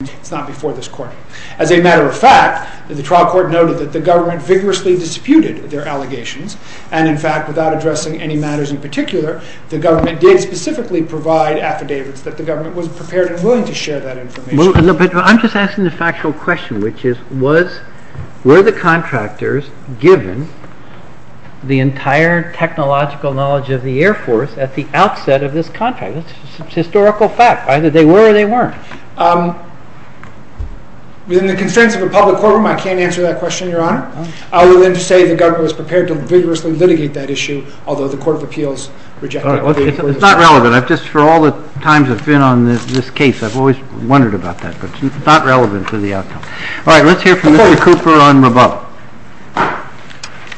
It's not before this court. As a matter of fact, the trial court noted that the government vigorously disputed their allegations and in fact, without addressing any matters in particular, the government did specifically provide affidavits that the government was prepared and willing to share that information. I'm just asking the factual question, which is, were the contractors given the entire technological knowledge of the Air Force at the outset of this contract? It's a historical fact. Either they were or they weren't. Within the constraints of a public courtroom, I can't answer that question, Your Honor. I will then say the government was prepared to vigorously litigate that issue, although the Court of Appeals rejected it. It's not relevant. Just for all the times I've been on this case, I've always wondered about that, but it's not relevant to the outcome. All right. Let's hear from Mr. Cooper on Rabat.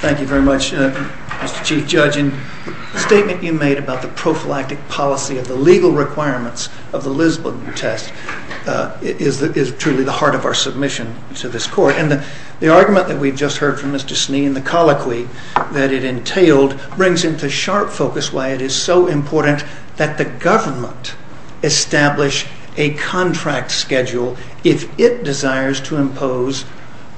Thank you very much, Mr. Chief Judge. It's not relevant. I've just, for all the times I've been on this case, I've always wondered about that, is truly the heart of our submission to this Court. And the argument that we've just heard from Mr. Sneed and the colloquy that it entailed brings into sharp focus why it is so important that the government establish a contract schedule if it desires to impose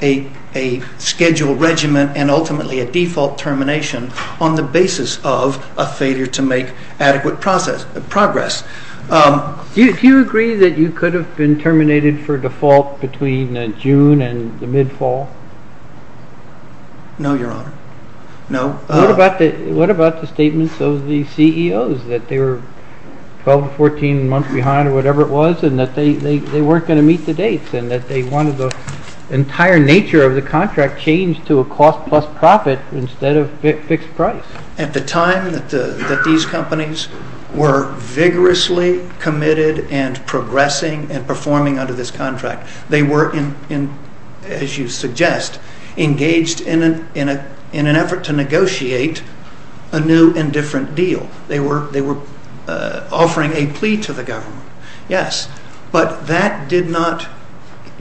a schedule regimen and ultimately a default termination on the basis of a failure to make adequate progress. Do you agree that you could have been terminated for default between June and the mid-Fall? No, Your Honor. No. What about the statements of the CEOs that they were 12 or 14 months behind or whatever it was and that they weren't going to meet the dates and that they wanted the entire nature of the contract changed to a cost plus profit instead of fixed price? At the time that these companies were vigorously committed and progressing and performing under this contract, they were, as you suggest, engaged in an effort to negotiate a new and different deal. They were offering a plea to the government, yes, but that did not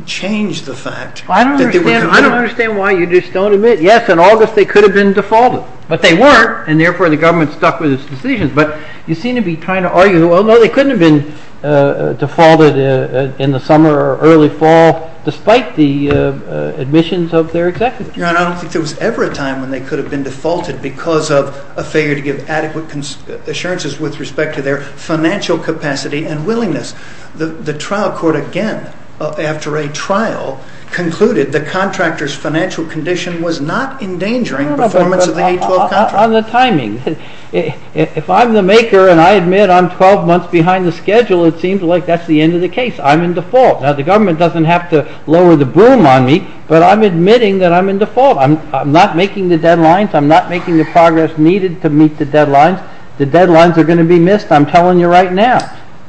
change the fact that they were committed. I don't understand why you just don't admit, yes, in August they could have been defaulted, but they weren't and therefore the government stuck with its decisions. But you seem to be trying to argue, well, no, they couldn't have been defaulted in the summer or early Fall despite the admissions of their executives. Your Honor, I don't think there was ever a time when they could have been defaulted because of a failure to give adequate assurances with respect to their financial capacity and willingness. The trial court again, after a trial, concluded the contractor's financial condition was not endangering the performance of the 812 contract. On the timing, if I'm the maker and I admit I'm 12 months behind the schedule, it seems like that's the end of the case. I'm in default. Now, the government doesn't have to lower the broom on me, but I'm admitting that I'm in default. I'm not making the deadlines. I'm not making the progress needed to meet the deadlines. The deadlines are going to be missed, I'm telling you right now.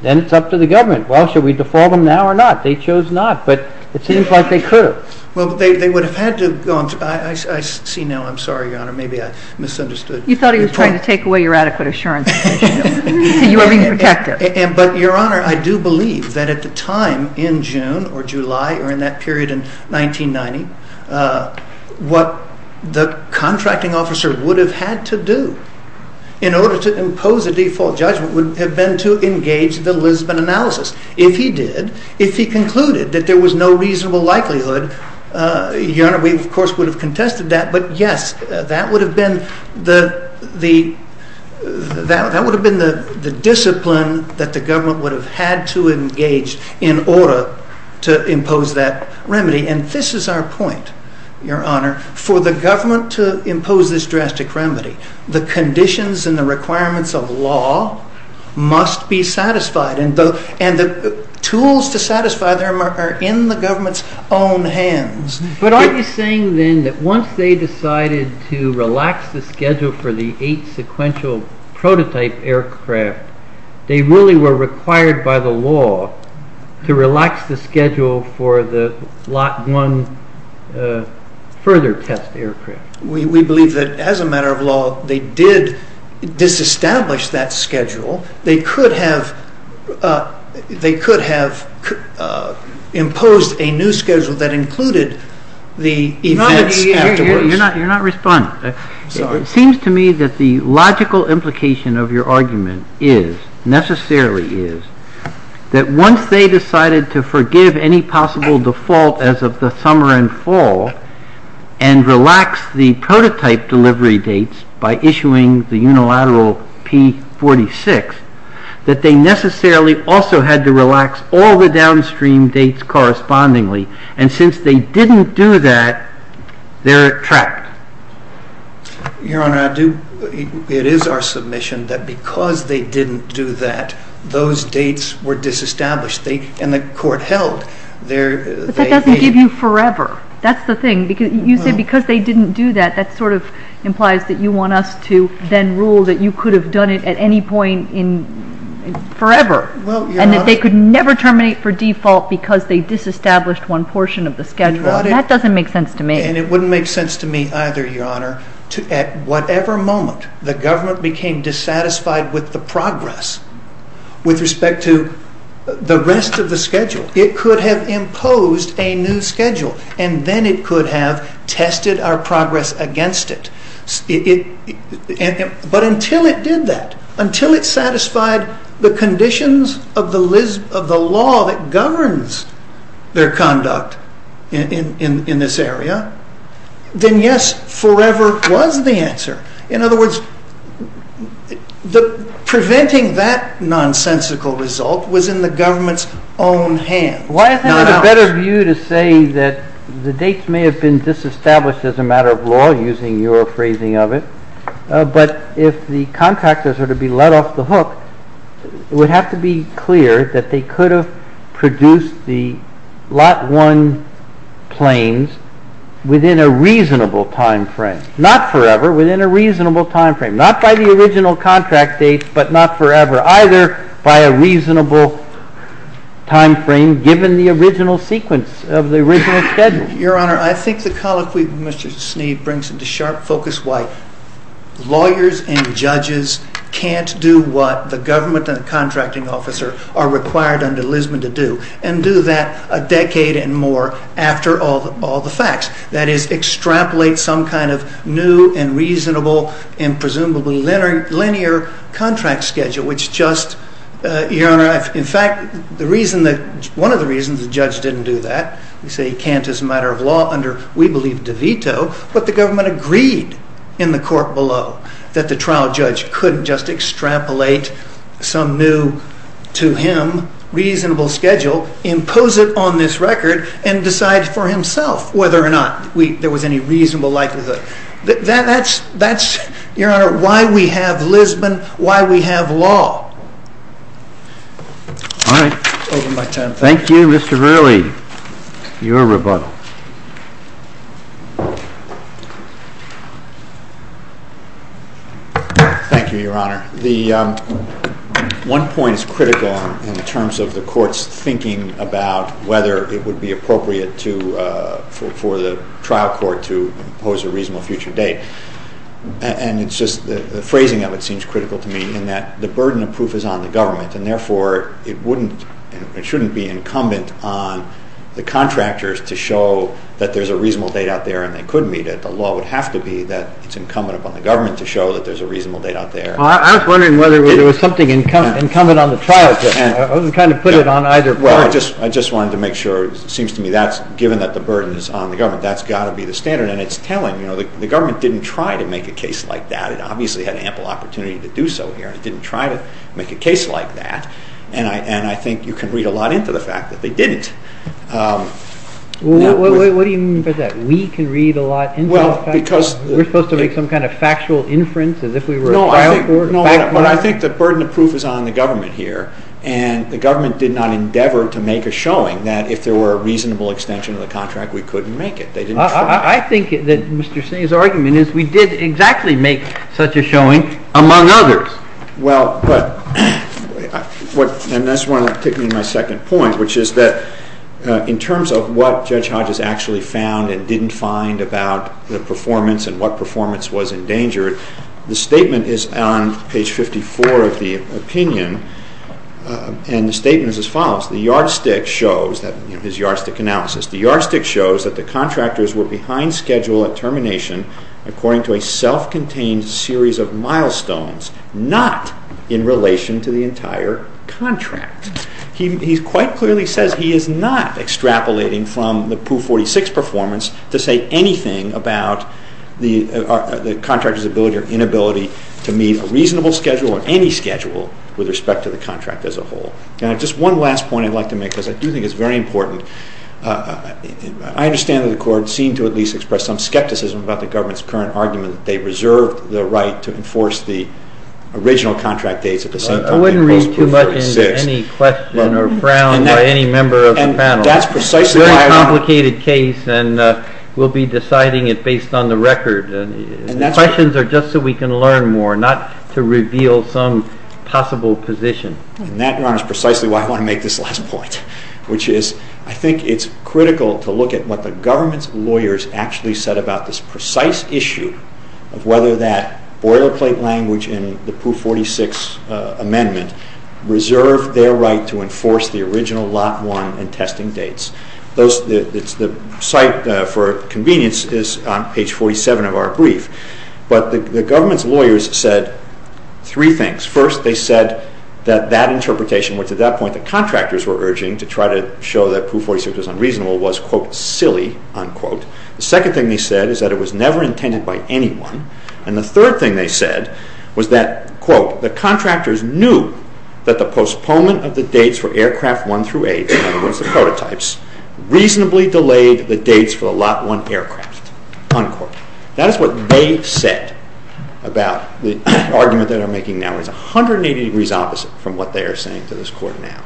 Then it's up to the government. Well, should we default them now or not? They chose not, but it seems like they could have. Well, they would have had to, I see now, I'm sorry, Your Honor, maybe I misunderstood. You thought he was trying to take away your adequate assurances, so you were being protective. But Your Honor, I do believe that at the time in June or July or in that period in 1990, what the contracting officer would have had to do in order to impose a default judgment would have been to engage the Lisbon analysis. If he did, if he concluded that there was no reasonable likelihood, Your Honor, we of course would have contested that. But yes, that would have been the discipline that the government would have had to engage in order to impose that remedy. And this is our point, Your Honor, for the government to impose this drastic remedy. The conditions and the requirements of law must be satisfied. The tools to satisfy them are in the government's own hands. But aren't you saying then that once they decided to relax the schedule for the eight sequential prototype aircraft, they really were required by the law to relax the schedule for the lot one further test aircraft? We believe that as a matter of law, they did disestablish that schedule. They could have imposed a new schedule that included the events afterwards. You're not responding. Sorry. It seems to me that the logical implication of your argument is, necessarily is, that once they decided to forgive any possible default as of the summer and fall and relax the prototype delivery dates by issuing the unilateral P46, that they necessarily also had to relax all the downstream dates correspondingly. And since they didn't do that, they're trapped. Your Honor, it is our submission that because they didn't do that, those dates were disestablished and the court held. But that doesn't give you forever. That's the thing. You say because they didn't do that, that sort of implies that you want us to then rule that you could have done it at any point forever and that they could never terminate for default because they disestablished one portion of the schedule. That doesn't make sense to me. And it wouldn't make sense to me either, Your Honor, to at whatever moment the government became dissatisfied with the progress with respect to the rest of the schedule. It could have imposed a new schedule and then it could have tested our progress against it. But until it did that, until it satisfied the conditions of the law that governs their conduct in this area, then yes, forever was the answer. In other words, preventing that nonsensical result was in the government's own hands. Why isn't it a better view to say that the dates may have been disestablished as a matter of law, using your phrasing of it, but if the contractors were to be let off the hook, it would have to be clear that they could have produced the lot one planes within a reasonable time frame. Not by the original contract date, but not forever, either by a reasonable time frame given the original sequence of the original schedule. Your Honor, I think the colloquy of Mr. Sneed brings into sharp focus why lawyers and judges can't do what the government and the contracting officer are required under Lisbon to do and do that a decade and more after all the facts. That is, extrapolate some kind of new and reasonable and presumably linear contract schedule, which just, Your Honor, in fact, one of the reasons the judge didn't do that, we say he can't as a matter of law under, we believe, De Vito, but the government agreed in the court below that the trial judge could just extrapolate some new, to him, reasonable schedule, impose it on this record, and decide for himself whether or not there was any reasonable likelihood. That's, Your Honor, why we have Lisbon, why we have law. All right. I'll open my time. Thank you. Thank you, Mr. Roehrig, your rebuttal. Thank you, Your Honor. The one point is critical in terms of the court's thinking about whether it would be appropriate for the trial court to impose a reasonable future date. And it's just the phrasing of it seems critical to me in that the burden of proof is on the government, and therefore it wouldn't, it shouldn't be incumbent on the contractors to show that there's a reasonable date out there and they could meet it. The law would have to be that it's incumbent upon the government to show that there's a reasonable date out there. Well, I was wondering whether there was something incumbent on the trial court, to kind of put it on either part. Well, I just wanted to make sure, it seems to me that's, given that the burden is on the government, that's got to be the standard. And it's telling. You know, the government didn't try to make a case like that. It obviously had ample opportunity to do so here, and it didn't try to make a case like that. And I think you can read a lot into the fact that they didn't. What do you mean by that? We can read a lot into the fact that we're supposed to make some kind of factual inference as if we were a trial court. No, I think the burden of proof is on the government here. And the government did not endeavor to make a showing that if there were a reasonable extension of the contract, we couldn't make it. They didn't try. I think that Mr. Singh's argument is we did exactly make such a showing, among others. Well, but, and that's where I'm taking my second point, which is that in terms of what Judge Hodges actually found and didn't find about the performance and what performance was endangered, the statement is on page 54 of the opinion, and the statement is as follows. The yardstick shows, his yardstick analysis, the yardstick shows that the contractors were behind schedule at termination according to a self-contained series of milestones, not in relation to the entire contract. He quite clearly says he is not extrapolating from the Pooh 46 performance to say anything about the contractor's ability or inability to meet a reasonable schedule or any schedule with respect to the contract as a whole. Now, just one last point I'd like to make, because I do think it's very important. I understand that the court seemed to at least express some skepticism about the government's current argument that they reserved the right to enforce the original contract dates at the same time they imposed Pooh 46. I wouldn't read too much into any question or frown by any member of the panel. And that's precisely why I... It's a complicated case, and we'll be deciding it based on the record. The questions are just so we can learn more, not to reveal some possible position. And that, Ron, is precisely why I want to make this last point, which is I think it's critical to look at what the government's lawyers actually said about this precise issue of whether that boilerplate language in the Pooh 46 amendment reserved their right to enforce it. The site for convenience is on page 47 of our brief. But the government's lawyers said three things. First, they said that that interpretation, which at that point the contractors were urging to try to show that Pooh 46 was unreasonable, was, quote, silly, unquote. The second thing they said is that it was never intended by anyone. And the third thing they said was that, quote, the contractors knew that the postponement of the dates for aircraft one through eight, in other words, the prototypes, reasonably delayed the dates for the lot one aircraft, unquote. That is what they said about the argument that I'm making now is 180 degrees opposite from what they are saying to this Court now.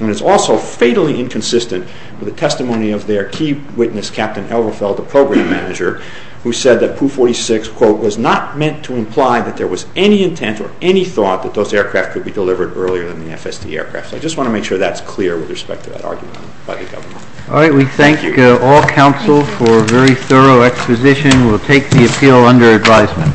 And it's also fatally inconsistent with the testimony of their key witness, Captain Elverfeld, the program manager, who said that Pooh 46, quote, was not meant to imply that there was any intent or any thought that those aircraft could be delivered earlier than the FSD aircraft. So I just want to make sure that's clear with respect to that argument by the government. All right. We thank all counsel for a very thorough exposition. We'll take the appeal under advisement.